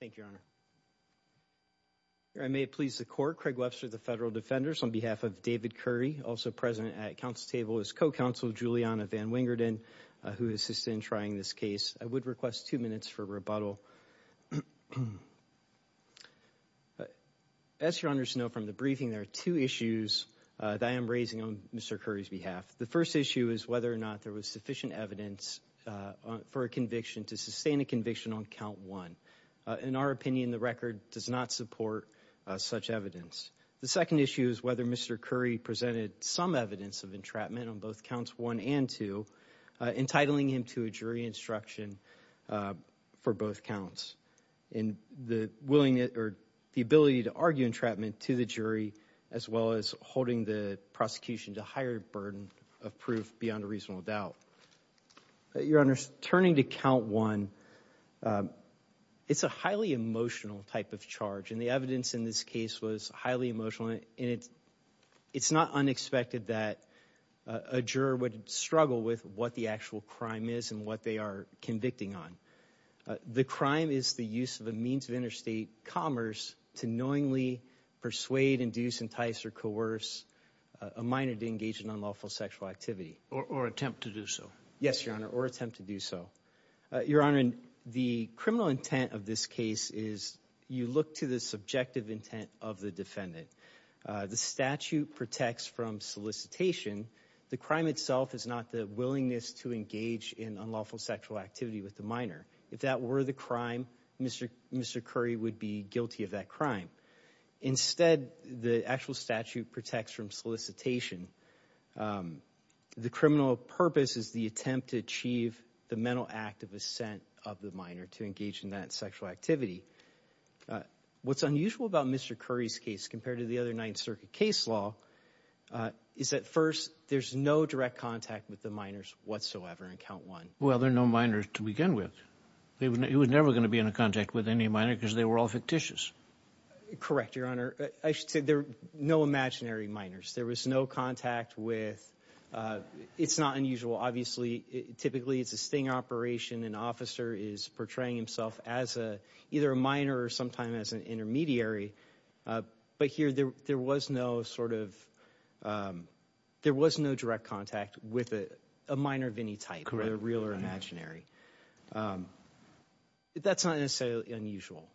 Thank you, Your Honor. I may please the court. Craig Webster of the Federal Defenders on behalf of David Curry, also present at council table, is co-counsel of Juliana Van Wingerden who assisted in trying this case. I would request two minutes for rebuttal. As Your Honors know from the briefing, there are two issues that I am raising on Mr. Curry's behalf. The first issue is whether or not there was sufficient evidence for a conviction to sustain a conviction on count one. In our opinion, the record does not support such evidence. The second issue is whether Mr. Curry presented some evidence of entrapment on both counts one and two, entitling him to a jury instruction for both counts. And the ability to argue entrapment to the jury as well as holding the prosecution to higher burden of proof beyond a reasonable doubt. Your Honors, turning to count one, it's a highly emotional type of charge. And the evidence in this case was highly emotional. And it's not unexpected that a juror would struggle with what the actual crime is and what they are convicting on. The crime is the use of a means of interstate commerce to knowingly persuade, induce, entice or coerce a minor to engage in unlawful sexual activity. Or attempt to do so. Yes, Your Honor, or attempt to do so. Your Honor, the criminal intent of this case is you look to the subjective intent of the defendant. The statute protects from solicitation. The crime itself is not the willingness to engage in unlawful sexual activity with the minor. If that were the crime, Mr. Curry would be guilty of that crime. Instead, the actual statute protects from solicitation. The criminal purpose is the attempt to achieve the mental act of assent of the minor to engage in that sexual activity. What's unusual about Mr. Curry's case compared to the other Ninth Circuit case law is that first, there's no direct contact with the minors whatsoever in count one. Well, there are no minors to begin with. He was never going to be in contact with any minor because they were all fictitious. Correct, Your Honor. I should say there are no imaginary minors. There was no contact with. It's not unusual. Obviously, typically, it's a sting operation. An officer is portraying himself as a either a minor or sometime as an intermediary. But here there was no sort of there was no direct contact with a minor of any type, real or imaginary. That's not necessarily unusual.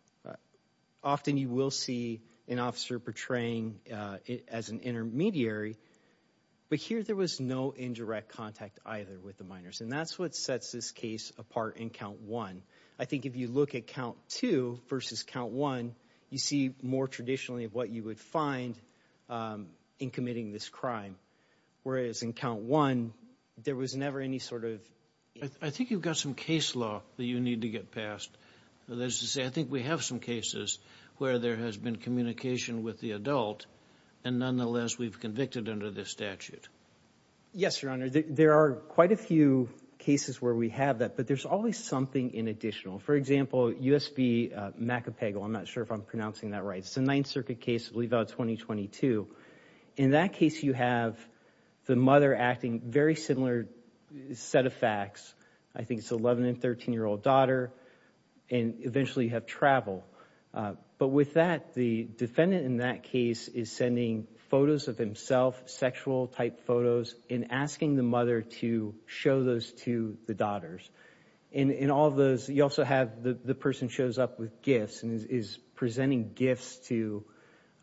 Often you will see an officer portraying it as an intermediary. But here there was no indirect contact either with the minors. And that's what sets this case apart in count one. I think if you look at count two versus count one, you see more traditionally of what you would find in committing this crime, whereas in count one, there was never any sort of I think you've got some case law that you need to get past. That is to say, I think we have some cases where there has been communication with the adult. And nonetheless, we've convicted under this statute. Yes, Your Honor. There are quite a few cases where we have that. But there's always something in additional. For example, U.S.B. McApagal. I'm not sure if I'm pronouncing that right. It's a Ninth Circuit case, I believe about 2022. In that case, you have the mother acting very similar set of facts. I think it's 11 and 13 year old daughter. And eventually you have travel. But with that, the defendant in that case is sending photos of himself, sexual type photos, and asking the mother to show those to the daughters. In all of those, you also have the person shows up with gifts and is presenting gifts to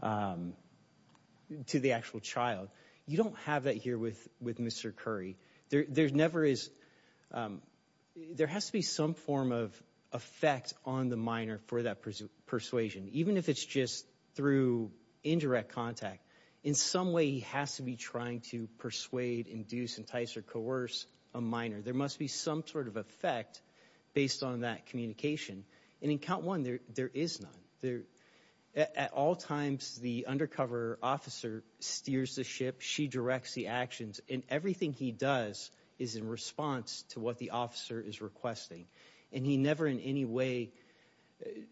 the actual child. You don't have that here with Mr. Curry. There's never is. There has to be some form of effect on the minor for that persuasion, even if it's just through indirect contact. In some way, he has to be trying to persuade, induce, entice or coerce a minor. There must be some sort of effect based on that communication. And in count one, there is none there. At all times, the undercover officer steers the ship. She directs the actions in everything he does is in response to what the officer is requesting. And he never in any way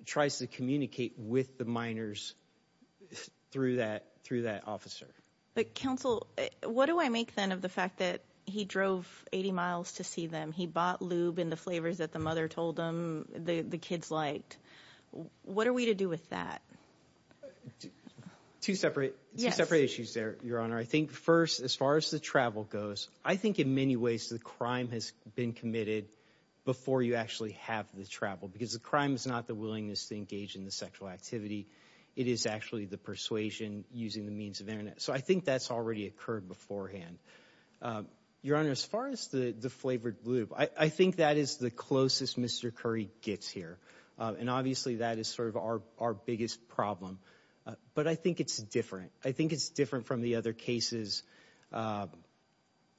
tries to communicate with the minors through that through that officer. But counsel, what do I make then of the fact that he drove 80 miles to see them? He bought in the flavors that the mother told them the kids liked. What are we to do with that? Two separate separate issues there, Your Honor. I think first, as far as the travel goes, I think in many ways, the crime has been committed before you actually have the travel because the crime is not the willingness to engage in the sexual activity. It is actually the persuasion using the means of Internet. So I think that's already occurred beforehand. Your Honor, as far as the flavored lube, I think that is the closest Mr. Curry gets here. And obviously, that is sort of our our biggest problem. But I think it's different. I think it's different from the other cases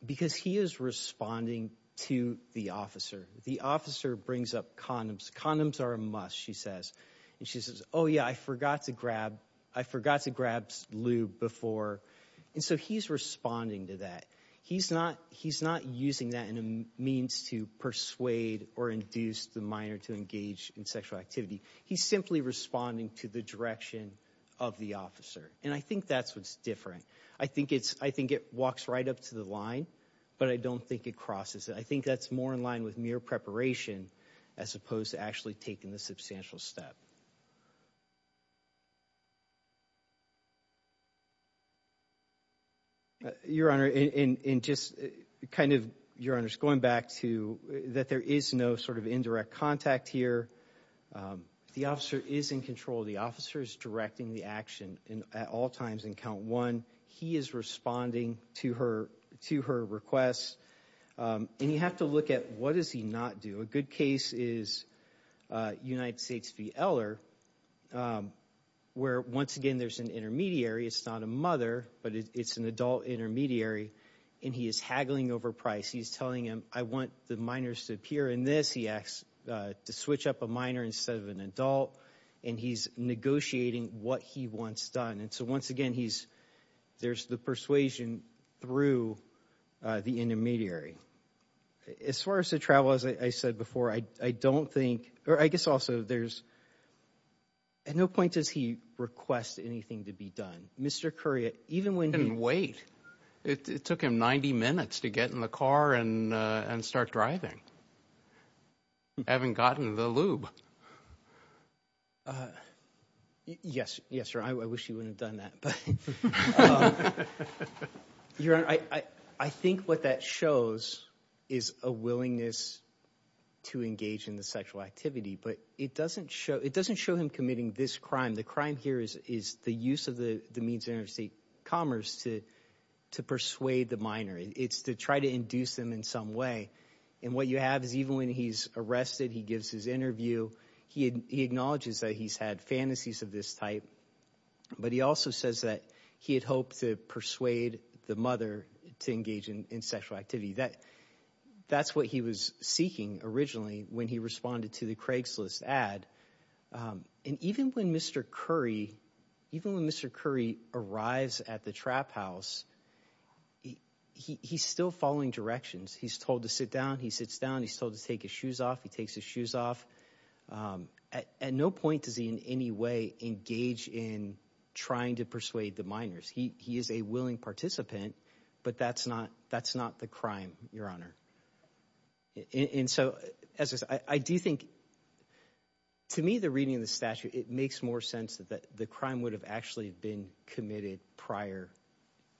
because he is responding to the officer. The officer brings up condoms. Condoms are a must, she says. And she says, oh, yeah, I forgot to grab I forgot to grab lube before. And so he's responding to that. He's not he's not using that in a means to persuade or induce the minor to engage in sexual activity. He's simply responding to the direction of the officer. And I think that's what's different. I think it's I think it walks right up to the line, but I don't think it crosses. I think that's more in line with mere preparation as opposed to actually taking the step. Your Honor, in just kind of your honor's going back to that, there is no sort of indirect contact here. The officer is in control. The officer is directing the action at all times and count one. He is responding to her to her requests. And you have to look at what does he not do? A good case is United States v. Eller, where once again, there's an intermediary. It's not a mother, but it's an adult intermediary. And he is haggling over price. He's telling him, I want the minors to appear in this. He asks to switch up a minor instead of an adult. And he's negotiating what he wants done. And so once again, he's there's the persuasion through the intermediary. As far as the travel, as I said before, I don't think, or I guess also there's at no point does he request anything to be done. Mr. Currier, even when you wait, it took him 90 minutes to get in the car and start driving. You haven't gotten the lube. Yes. Yes, sir. I wish you wouldn't have done that. But you're right. I think what that shows is a willingness to engage in the sexual activity. But it doesn't show it doesn't show him committing this crime. The crime here is the use of the means of interstate commerce to to persuade the minor. It's to try to induce them in some way. And what you have is even when he's arrested, he gives his interview, he acknowledges that he's had fantasies of this type. But he also says that he had hoped to persuade the mother to engage in sexual activity that that's what he was seeking originally when he responded to the Craigslist ad. And even when Mr. Curry, even when Mr. Curry arrives at the house, he's still following directions. He's told to sit down. He sits down. He's told to take his shoes off. He takes his shoes off at no point. Does he in any way engage in trying to persuade the minors? He is a willing participant, but that's not that's not the crime, Your Honor. And so, as I do think to me, the reading of the statute, it makes more sense that the crime would have actually been committed prior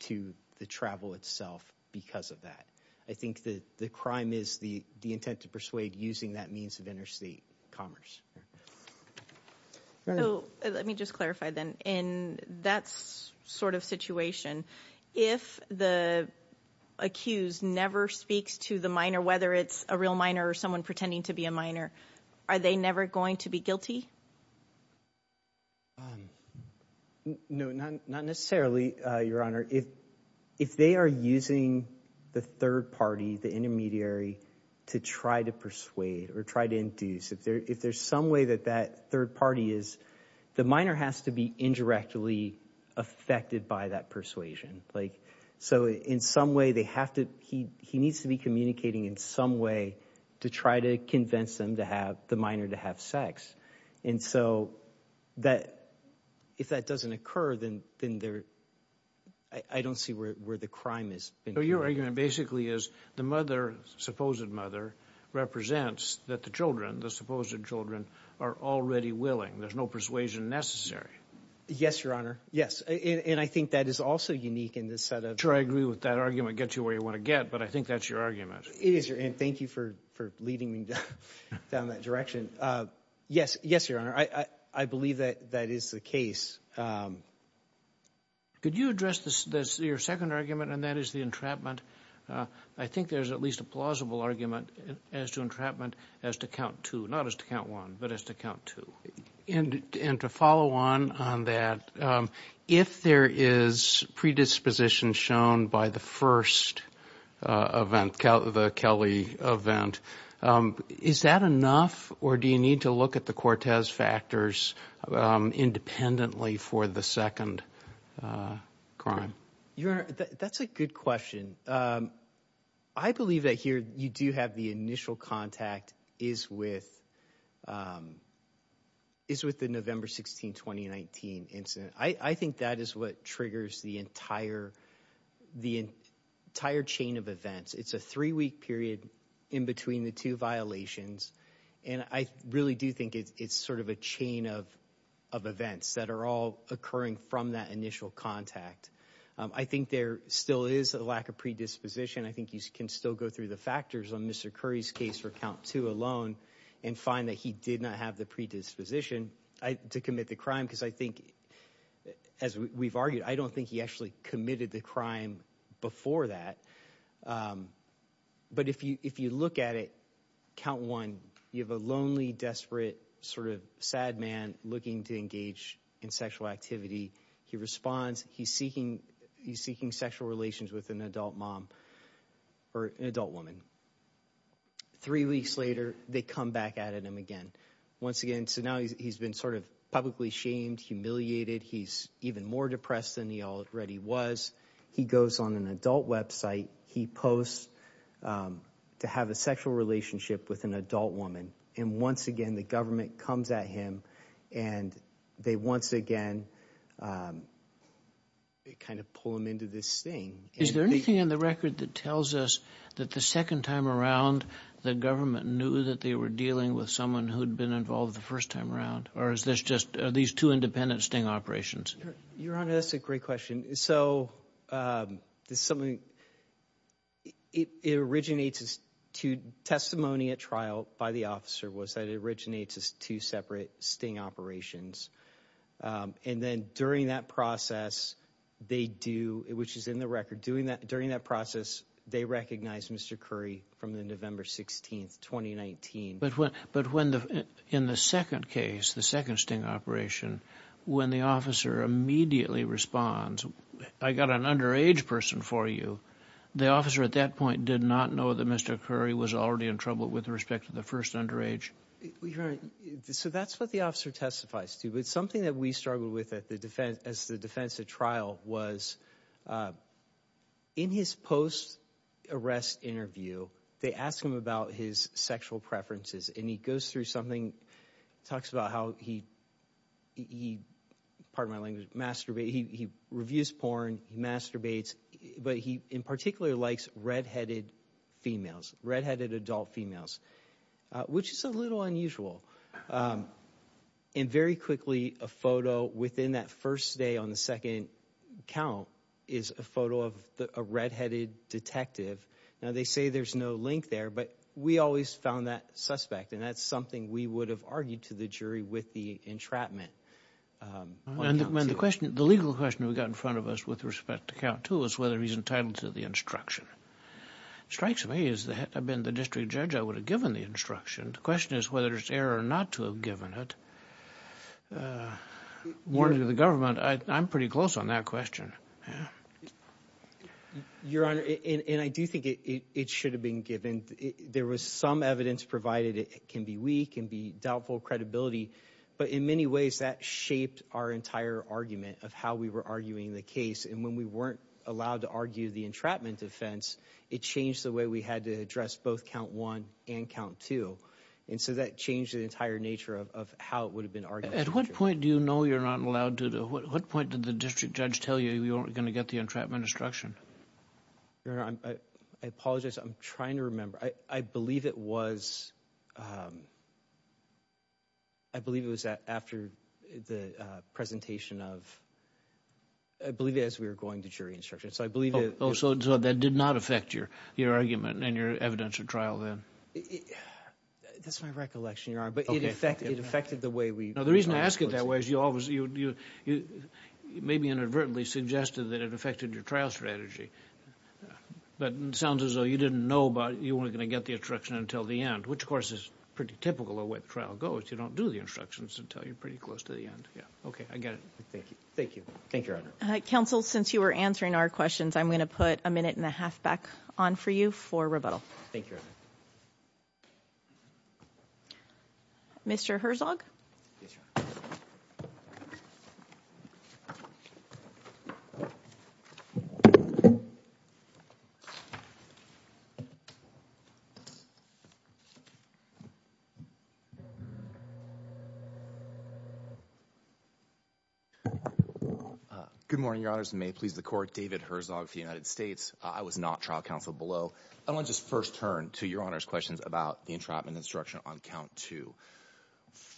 to the travel itself because of that. I think that the crime is the the intent to persuade using that means of interstate commerce. So let me just clarify then in that sort of situation, if the accused never speaks to the minor, whether it's a real minor or someone pretending to be a minor, are they never going to be guilty? No, not not necessarily, Your Honor. If if they are using the third party, the intermediary, to try to persuade or try to induce, if there if there's some way that that third party is, the minor has to be indirectly affected by that persuasion. Like, so in some way they have to he he needs to be communicating in some way to try to convince them to have the minor to have sex. And so that if that doesn't occur, then then they're I don't see where where the crime is. So your argument basically is the mother, supposed mother, represents that the children, the supposed children, are already willing. There's no persuasion necessary. Yes, Your Honor. Yes. And I think that is also unique in this set of... Sure, I agree with that argument. Gets you where you want to get. But I think that's your argument. It is, Your Honor. Thank you for for leading me down that direction. Yes, yes, Your Honor. I I believe that that is the case. Could you address this, your second argument, and that is the entrapment. I think there's at least a plausible argument as to entrapment as to count two. Not as to count one, but as to count two. And and to follow on on that, if there is predisposition shown by the first event, the Kelly event, is that enough? Or do you need to look at the Cortez factors independently for the second crime? Your Honor, that's a good question. I believe that here you do have the initial contact is with is with the November 16, 2019 incident. I I think that is what triggers the entire the entire chain of events. It's a three week period in between the two violations. And I really do think it's sort of a chain of of events that are all occurring from that initial contact. I think there still is a lack of predisposition. I think you can still go through the factors on Mr. Curry's case for count two alone and find that he did not have the predisposition to commit the crime. Because I think, as we've argued, I don't think he actually committed the crime before that. But if you if you look at it, count one, you have a lonely, desperate, sort of sad man looking to engage in sexual activity. He responds. He's seeking he's seeking sexual relations with an adult mom or an adult woman. Three weeks later, they come back at him again. Once again, so now he's been sort of publicly shamed, humiliated. He's even more depressed than he already was. He goes on an adult website. He posts to have a sexual relationship with an adult woman. And once again, the government comes at him and they once again, they kind of pull him into this thing. Is there anything in the record that tells us that the second time around the government knew that they were dealing with someone who'd been involved the first time around? Or is this just these two independent sting operations? Your Honor, that's a great question. So there's something it originates to testimony at trial by the officer was that it originates as two separate sting operations. And then during that process, they do it, which is in the record doing that during that process. They recognize Mr. Curry from the November 16th, 2019. But when but when in the second case, the second sting operation, when the officer immediately responds, I got an underage person for you. The officer at that point did not know that Mr. Curry was already in trouble with respect to the first underage. Your Honor, so that's what the officer testifies to. But something that we struggled with at the defense as the defense at trial was in his post arrest interview, they ask him about his sexual preferences and he goes through something, talks about how he, pardon my language, masturbate. He reviews porn, he masturbates, but he in particular likes redheaded females, redheaded adult females, which is a little unusual. And very quickly, a photo within that first day on the second count is a photo of a redheaded detective. Now, they say there's no link there, but we always found that suspect and that's something we would have argued to the jury with the entrapment. And the question, the legal question we got in front of us with respect to count two is whether he's entitled to the instruction. Strikes me, as the head, I've been the district judge, I would have given the instruction. The question is whether it's error or not to have given it. Warning to the government, I'm pretty close on that question. Your Honor, and I do think it should have been given. There was some evidence provided it can be weak and be doubtful credibility, but in many ways that shaped our entire argument of how we were arguing the case. And when we weren't allowed to argue the entrapment offense, it changed the way we had to address both count one and count two. And so that changed the entire nature of how it would have been argued. At what point do you know you're not allowed to? What point did the district judge tell you you weren't going to get the entrapment instruction? Your Honor, I apologize. I'm trying to remember. I believe it was, um, I believe it was that after the presentation of, I believe, as we were going to jury instruction. So I believe it. Oh, so that did not affect your argument and your evidence of trial then? That's my recollection, Your Honor, but it affected the way we. Now, the reason I ask it that way is you always, you maybe inadvertently suggested that it affected your trial strategy, but it sounds as though you didn't know about, you weren't going to get the instruction until the end, which of course is pretty typical of where the trial goes. You don't do the instructions until you're pretty close to the end. Yeah. Okay. I get it. Thank you. Thank you. Thank you, Your Honor. Counsel, since you were answering our questions, I'm going to put a minute and a half back on for you for rebuttal. Thank you. Mr. Herzog. Good morning, Your Honors. May it please the court, David Herzog of the United States. I was not trial counsel below. I want to just first turn to Your Honor's questions about the entrapment instruction on count two.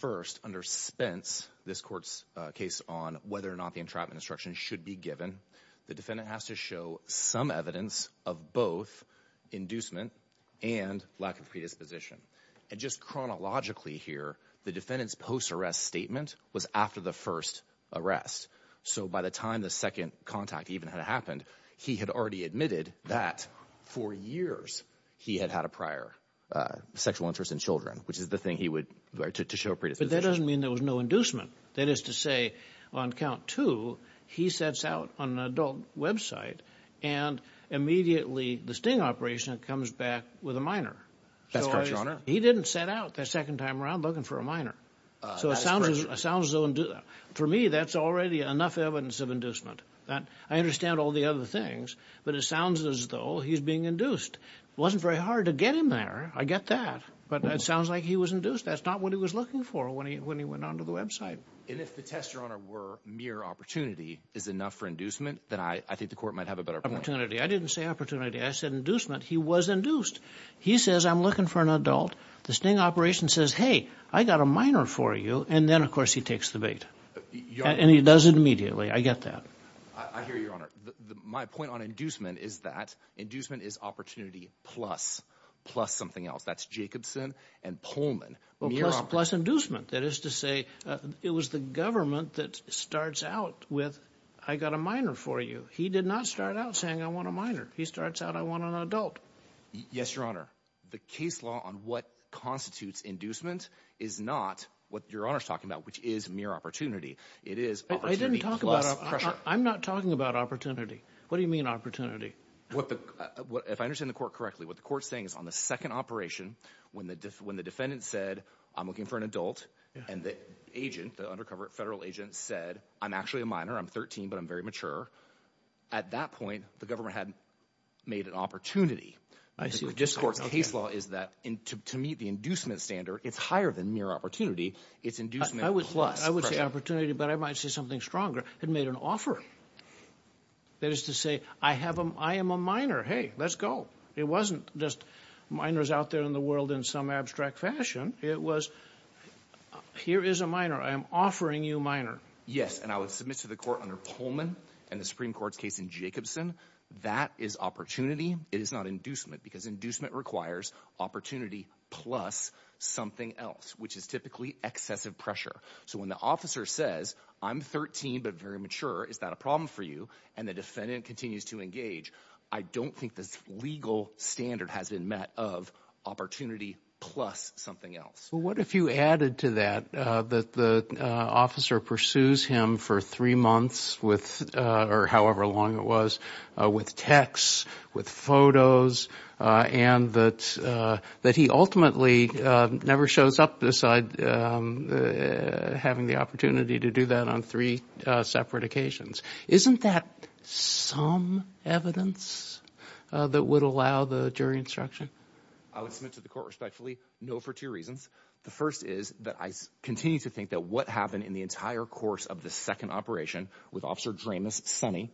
First, under Spence, this court's case on whether or not the entrapment instruction should be given, the defendant has to show some evidence of both inducement and lack of predisposition. And just chronologically here, the defendant's post-arrest statement was after the first arrest. So by the time the second contact even had happened, he had already admitted that for years he had had a prior sexual interest in children, which is the thing he would, to show predisposition. But that doesn't mean there was no inducement. That is to say, on count two, he sets out on an adult website and immediately the sting operation comes back with a minor. That's correct, Your Honor. He didn't set out the second time around looking for a minor. So it sounds as though, for me, that's already enough evidence of inducement. I understand all the other things, but it sounds as though he's being induced. It wasn't very hard to get him there. I get that. But it sounds like he was induced. That's not what he was looking for when he went onto the website. And if the tests, Your Honor, were mere opportunity, is enough for inducement, then I think the court might have a better point. Opportunity. I didn't say opportunity. I said inducement. He was induced. He says, I'm looking for an adult. The sting operation says, hey, I got a minor for you. And then, of course, he takes the bait. And he does it immediately. I get that. I hear you, Your Honor. My point on inducement is that inducement is opportunity plus something else. That's Jacobson and Pullman. Plus inducement. That is to say, it was the government that starts out with, I got a minor for you. He did not start out saying, I want a minor. He starts out, I want an adult. Yes, Your Honor. The case law on what constitutes inducement is not what Your Honor's talking about, which is mere opportunity. It is opportunity plus pressure. I'm not talking about opportunity. What do you mean opportunity? If I understand the court correctly, what the court's saying is on the second operation, when the defendant said, I'm looking for an adult, and the agent, the undercover federal agent said, I'm actually a minor. I'm 13, but I'm very mature. At that point, the government had made an opportunity. I see what you're saying. The court's case law is that to meet the inducement standard, it's higher than mere opportunity. It's inducement plus pressure. I would say opportunity, but I might say something stronger. It made an offer. That is to say, I am a minor. Hey, let's go. It wasn't just minors out there in the world in some abstract fashion. It was, here is a minor. I am offering you a minor. Yes, and I would submit to the court under Pullman and the Supreme Court's case in Jacobson. That is opportunity. It is not inducement because inducement requires opportunity plus something else, which is typically excessive pressure. So when the officer says, I'm 13, but very mature, is that a problem for you? And the defendant continues to engage. I don't think this legal standard has been met of opportunity plus something else. What if you added to that that the officer pursues him for three months or however long it was with texts, with photos, and that he ultimately never shows up beside having the opportunity to do that on three separate occasions? Isn't that some evidence that would allow the jury instruction? I would submit to the court respectfully, no, for two reasons. The first is that I continue to think that what happened in the entire course of the second operation with Officer Dramus Sonny,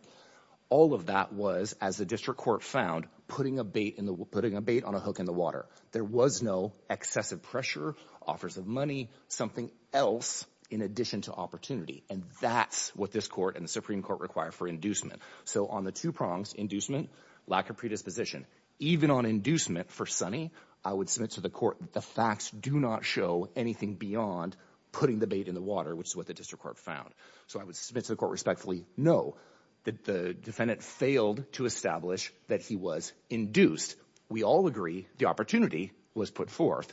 all of that was, as the district court found, putting a bait on a hook in the water. There was no excessive pressure, offers of money, something else in addition to opportunity. And that's what this court and the Supreme Court require for inducement. So on the two prongs, inducement, lack of predisposition, even on inducement for Sonny, I would submit to the court that the facts do not show anything beyond putting the bait in the water, which is what the district court found. So I would submit to the court respectfully, no, that the defendant failed to establish that he was induced. We all agree the opportunity was put forth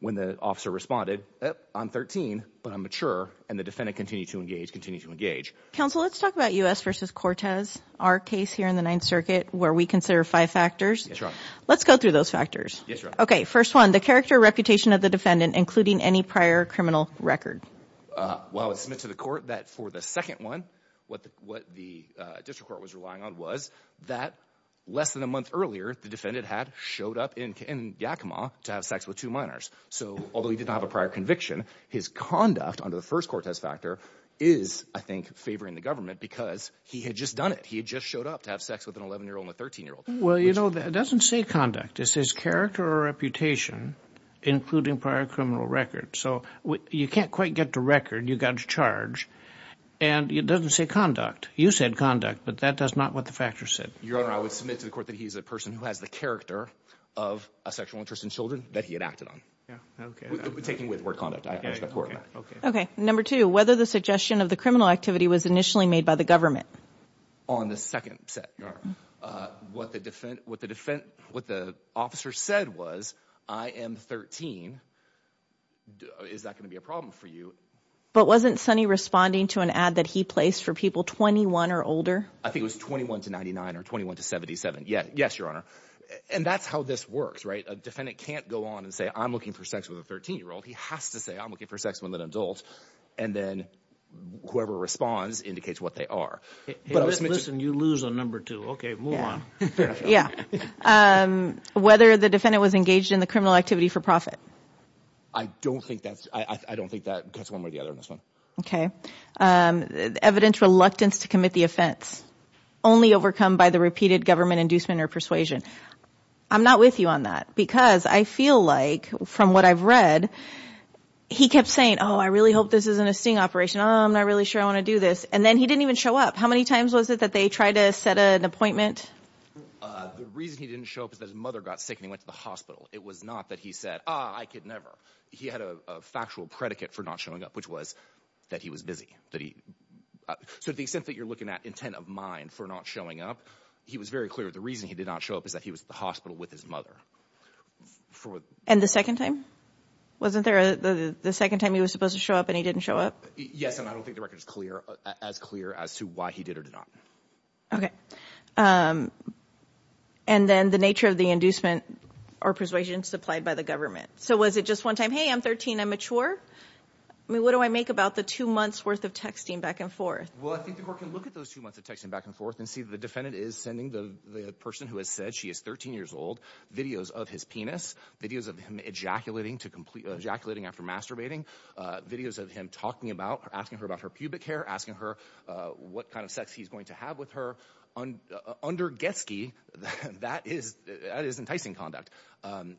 when the officer responded, I'm 13, but I'm mature. And the defendant continued to engage, continue to engage. Counsel, let's talk about U.S. versus Cortez, our case here in the Ninth Circuit, where we consider five factors. Let's go through those factors. Okay. First one, the character reputation of the defendant, including any prior criminal record. Well, it's meant to the court that for the second one, what the district court was relying on was that less than a month earlier, the defendant had showed up in Yakima to have sex with two Although he did not have a prior conviction, his conduct under the first Cortez factor is, I think, favoring the government because he had just done it. He had just showed up to have sex with an 11-year-old and a 13-year-old. Well, you know, that doesn't say conduct. It says character or reputation, including prior criminal records. So you can't quite get to record. You've got to charge. And it doesn't say conduct. You said conduct, but that does not what the factors said. Your Honor, I would submit to the court that he's a person who has the character of a sexual interest in children that he had acted on. Yeah. Okay. Taking with word conduct. Okay. Okay. Number two, whether the suggestion of the criminal activity was initially made by the government on the second set. What the defense, what the defense, what the officer said was, I am 13. Is that going to be a problem for you? But wasn't Sonny responding to an ad that he placed for people 21 or older? I think it was 21 to 99 or 21 to 77. Yeah. Yes, Your Honor. And that's how this works, right? A defendant can't go on and say, I'm looking for sex with a 13-year-old. He has to say, I'm looking for sex with an adult. And then whoever responds indicates what they are. But listen, you lose on number two. Okay, move on. Yeah. Whether the defendant was engaged in the criminal activity for profit. I don't think that's, I don't think that cuts one way or the other on this one. Okay. Evidence reluctance to commit the offense only overcome by the repeated government inducement or persuasion. I'm not with you on that because I feel like from what I've read, he kept saying, oh, I really hope this isn't a sting operation. Oh, I'm not really sure I want to do this. And then he didn't even show up. How many times was it that they tried to set an appointment? The reason he didn't show up is that his mother got sick and he went to the hospital. It was not that he said, oh, I could never. He had a factual predicate for not showing up, which was that he was busy. So the extent you're looking at intent of mind for not showing up, he was very clear. The reason he did not show up is that he was at the hospital with his mother. And the second time? Wasn't there the second time he was supposed to show up and he didn't show up? Yes. And I don't think the record is clear, as clear as to why he did or did not. Okay. And then the nature of the inducement or persuasion supplied by the government. So was it just one time? Hey, I'm 13, I'm mature. I mean, what do I make about the two months worth of texting back and forth? Well, I think the court can look at those two months of texting back and forth and see the defendant is sending the person who has said she is 13 years old, videos of his penis, videos of him ejaculating to complete ejaculating after masturbating, videos of him talking about asking her about her pubic hair, asking her what kind of sex he's going to have with her under Getsky. That is, that is enticing conduct.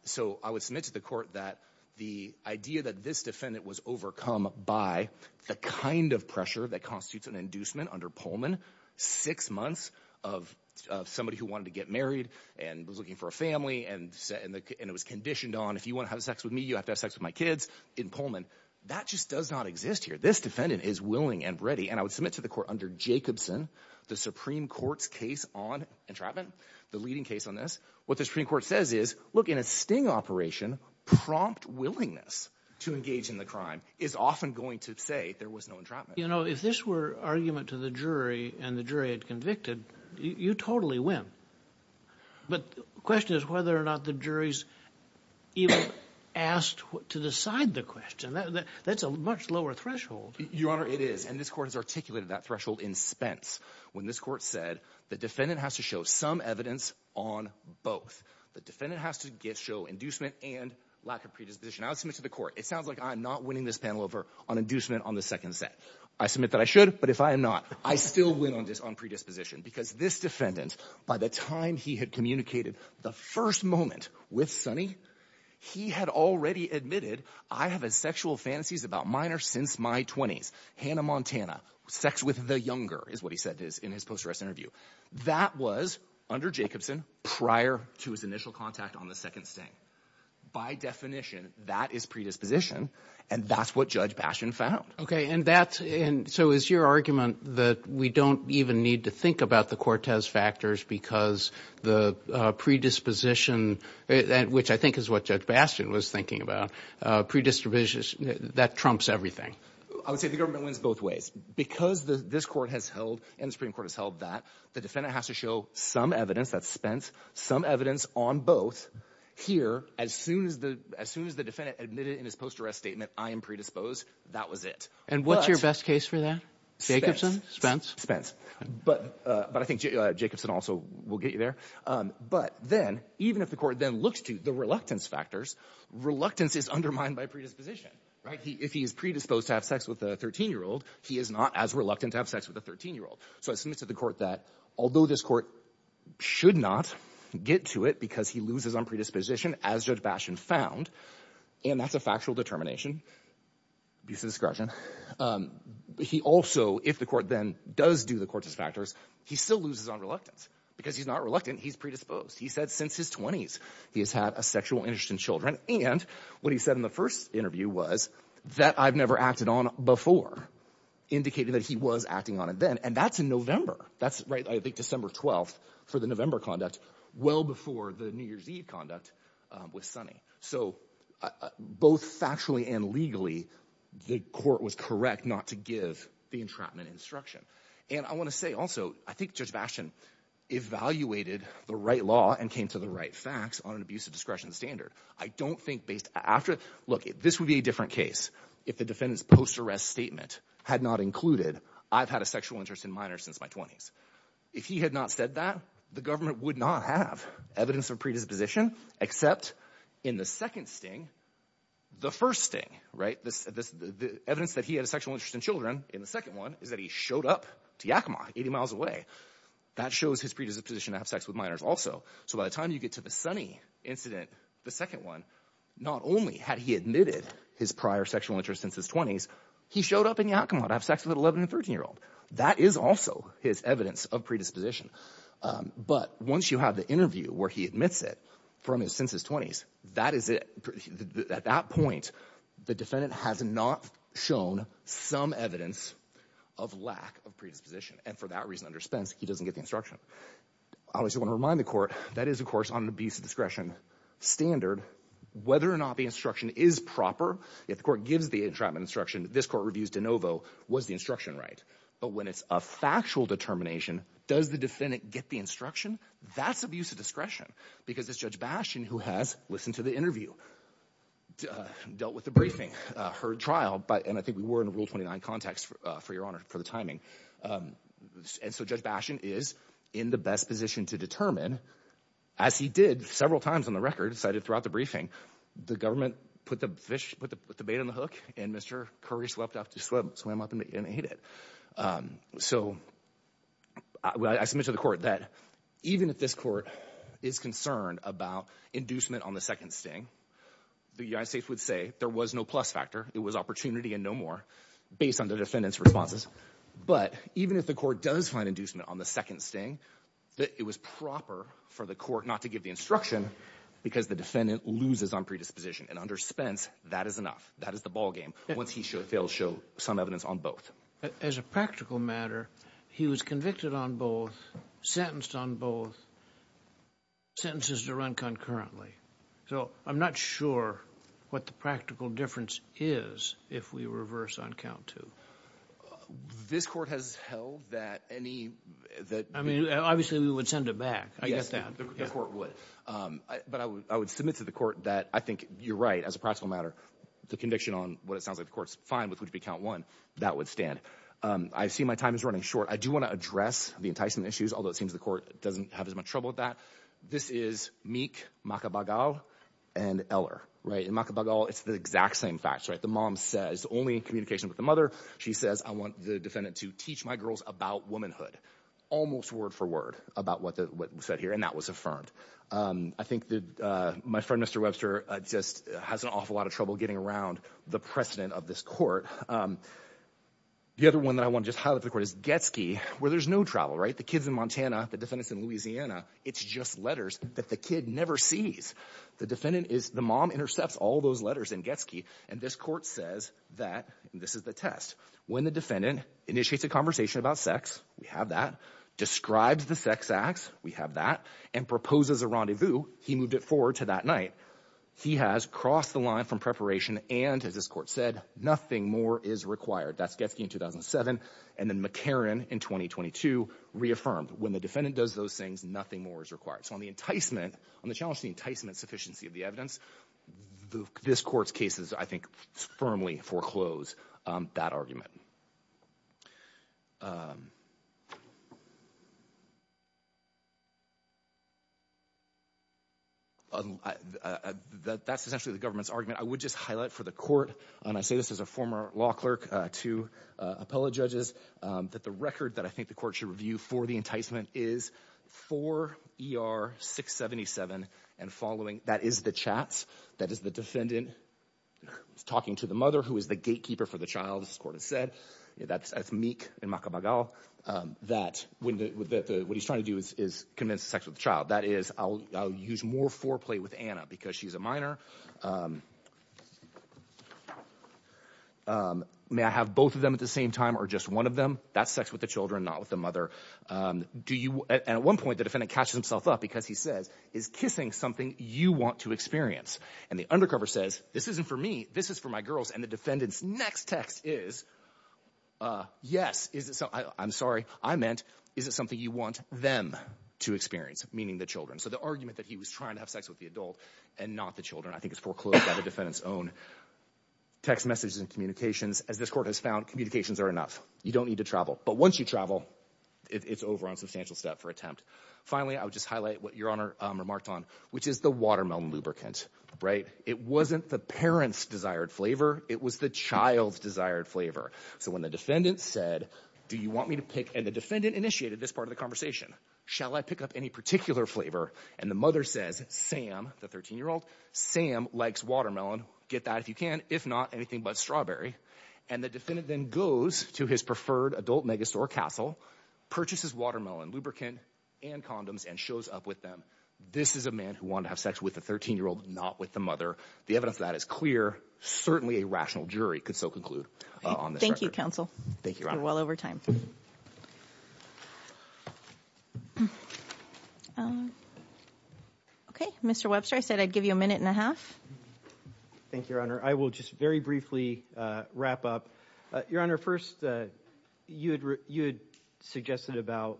So I would submit to the court that the idea that this defendant was overcome by the kind of pressure that constitutes an inducement under Pullman, six months of somebody who wanted to get married and was looking for a family and was conditioned on, if you want to have sex with me, you have to have sex with my kids in Pullman. That just does not exist here. This defendant is willing and ready. And I would submit to the court under Jacobson, the Supreme Court's case on entrapment, the leading case on this. What the Supreme Court says is look, in a sting operation, prompt willingness to engage in the crime is often going to say there was no entrapment. You know, if this were argument to the jury and the jury had convicted, you totally win. But the question is whether or not the jury's asked to decide the question. That's a much lower threshold. Your Honor, it is. And this court has articulated that threshold in Spence when this court said the defendant has to show some evidence on both. The defendant has to show inducement and lack of predisposition. I would submit to the court, it sounds like I'm not winning this panel over on inducement on the second set. I submit that I should, but if I am not, I still win on predisposition. Because this defendant, by the time he had communicated the first moment with Sonny, he had already admitted, I have a sexual fantasies about minors since my 20s. Hannah Montana, sex with the younger, is what he said in his post arrest interview. That was under Jacobson prior to his initial contact on the second sting. By definition, that is predisposition. And that's what Judge Bastian found. Okay. And that's, and so is your argument that we don't even need to think about the Cortez factors because the predisposition, which I think is what Judge Bastian was thinking about, predisposition, that trumps everything? I would say the government wins both ways because this court has held, and the Supreme Court has held that, the defendant has to show some evidence, that's Spence, some evidence on both. Here, as soon as the defendant admitted in his post arrest statement, I am predisposed, that was it. And what's your best case for that? Jacobson? Spence? Spence. But I think Jacobson also will get you there. But then, even if the court then looks to the reluctance factors, reluctance is undermined by predisposition, right? If he is predisposed to have sex with a 13-year-old, he is not as reluctant to have sex with a 13-year-old. So I submitted to the court that although this court should not get to it because he loses on predisposition, as Judge Bastian found, and that's a factual determination, abuse of discretion, he also, if the court then does do the Cortez factors, he still loses on reluctance because he's not reluctant, he's predisposed. He said since his 20s, he has had sexual interest in children. And what he said in the first interview was that I've never acted on before, indicating that he was acting on it then. And that's in November. That's right, I think, December 12th for the November conduct, well before the New Year's Eve conduct with Sonny. So both factually and legally, the court was correct not to give the entrapment instruction. And I want to say also, I think Judge Bastian evaluated the right law and came to the right facts on an abuse of discretion standard. I don't think based after, look, this would be a different case if the defendant's post-arrest statement had not included, I've had a sexual interest in minors since my 20s. If he had not said that, the government would not have evidence of predisposition, except in the second sting, the first sting, right? The evidence that he had a sexual interest in children in the second one is that he showed up to Yakima, 80 miles away. That shows his predisposition to have sex with minors also. So by the time you get to the Sonny incident, the second one, not only had he admitted his prior sexual interest since his 20s, he showed up in Yakima to have sex with an 11 and 13-year-old. That is also his evidence of predisposition. But once you have the interview where he admits it from his, since his 20s, that is it. At that point, the defendant has not shown some evidence of lack of predisposition. And for that reason, underspends, he doesn't get the instruction. Obviously, I want to remind the court, that is, of course, on an abuse of discretion standard, whether or not the instruction is proper, if the court gives the entrapment instruction, this court reviews de novo, was the instruction right? But when it's a factual determination, does the defendant get the instruction? That's abuse of discretion. Because it's Judge Bastian who has listened to the interview, dealt with the briefing, heard trial, and I think we were in Rule 29 context, for your honor, for the timing. And so Judge Bastian is in the best position to determine, as he did several times on the record, cited throughout the briefing, the government put the fish, put the bait on the hook and Mr. Curry swept up to swim, swam up and ate it. So I submit to the court that even if this court is concerned about inducement on the second sting, the United States would say there was no plus factor, it was opportunity and no more, based on the defendant's responses. But even if the court does find inducement on the second sting, that it was proper for the court not to give the instruction because the defendant loses on predisposition. And under Spence, that is enough. That is the ballgame. Once he fails, show some evidence on both. As a practical matter, he was convicted on both, sentenced on both, sentences to run concurrently. So I'm not sure what the practical difference is if we reverse on count two. This court has held that any, that, I mean, obviously we would send it back. I guess that the court would. But I would submit to the court that I think you're right, as a practical matter, the conviction on what it sounds like the court's fine with would be count one. That would stand. I see my time is running short. I do want to address the enticing issues, although it seems the court doesn't have as much trouble with that. This is Meek, Macabagal, and Eller. In Macabagal, it's the exact same facts. The mom says, only in communication with the mother, she says, I want the defendant to teach my girls about womanhood. Almost word for word about what was said here. And that was affirmed. I think that my friend, Mr. Webster, just has an awful lot of trouble getting around the precedent of this court. The other one that I want to just highlight for the court is Getsky, where there's no travel. The kid's in Montana. The defendant's in Louisiana. It's just letters that the kid never sees. The mom intercepts all those letters in Getsky, and this court says that, and this is the test, when the defendant initiates a conversation about sex, we have that, describes the sex acts, we have that, and proposes a rendezvous, he moved it forward to that night. He has crossed the line from preparation, and as this court said, nothing more is required. That's Getsky in 2007, and then reaffirmed. When the defendant does those things, nothing more is required. So on the enticement, on the challenge to the enticement sufficiency of the evidence, this court's cases, I think, firmly foreclose that argument. That's essentially the government's argument. I would just highlight for the court, and I say this as a former law clerk to appellate judges, that the record that I think the court should review for the enticement is 4 ER 677, and following, that is the chats, that is the defendant talking to the mother, who is the gatekeeper for the child, as the court has said, that's Meek in Macabagal, that what he's trying to do is convince the sex with the child. That is, I'll use more foreplay with Anna, because she's a minor. May I have both of them at the same time, or just one of them? That's sex with the children, not with the mother. And at one point, the defendant catches himself up, because he says, is kissing something you want to experience? And the undercover says, this isn't for me, this is for my girls. And the defendant's next text is, yes, I'm sorry, I meant, is it something you want them to experience? Meaning the children. So the argument that he was trying to have sex with the adult, and not the children, I think is foreclosed by the defendant's own text messages and communications. As this court has found, communications are enough. You don't need to it's over on substantial step for attempt. Finally, I would just highlight what Your Honor remarked on, which is the watermelon lubricant, right? It wasn't the parent's desired flavor, it was the child's desired flavor. So when the defendant said, do you want me to pick, and the defendant initiated this part of the conversation, shall I pick up any particular flavor? And the mother says, Sam, the 13-year-old, Sam likes watermelon, get that if you can, if not anything but strawberry. And the defendant then goes to his preferred adult megastore castle, purchases watermelon, lubricant, and condoms, and shows up with them. This is a man who wanted to have sex with the 13-year-old, not with the mother. The evidence of that is clear, certainly a rational jury could so conclude on this record. Thank you, counsel. Thank you, Your Honor. You're well over time. Okay, Mr. Webster, I said I'd give you a minute and a half. Thank you, Your Honor. I will just very briefly wrap up. Your Honor, first, you had suggested about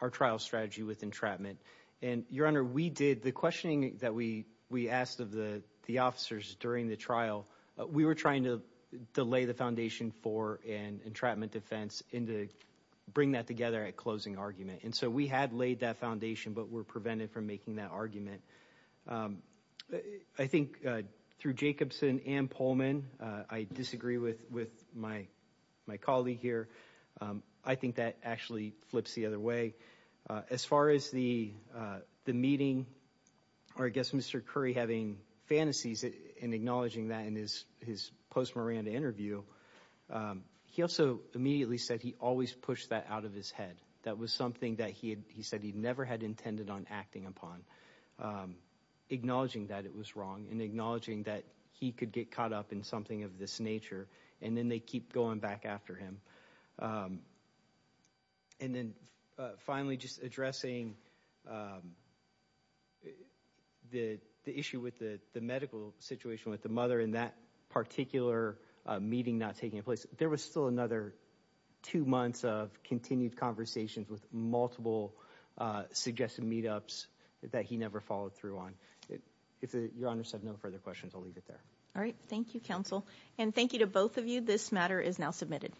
our trial strategy with entrapment. And, Your Honor, we did, the questioning that we asked of the officers during the trial, we were trying to lay the foundation for an entrapment defense and to bring that together at closing argument. And so we had laid that foundation, but were making that argument. I think through Jacobson and Pullman, I disagree with my colleague here. I think that actually flips the other way. As far as the meeting, or I guess Mr. Curry having fantasies in acknowledging that in his post-Miranda interview, he also immediately said he always pushed that out of his head. That was something that he said he never had intended on acting upon. Acknowledging that it was wrong and acknowledging that he could get caught up in something of this nature, and then they keep going back after him. And then finally, just addressing the issue with the medical situation with the mother in that particular meeting not taking place. There was still another two months of continued conversations with multiple suggested meetups that he never followed through on. If Your Honors have no further questions, I'll leave it there. All right. Thank you, counsel. And thank you to both of you. This matter is now submitted.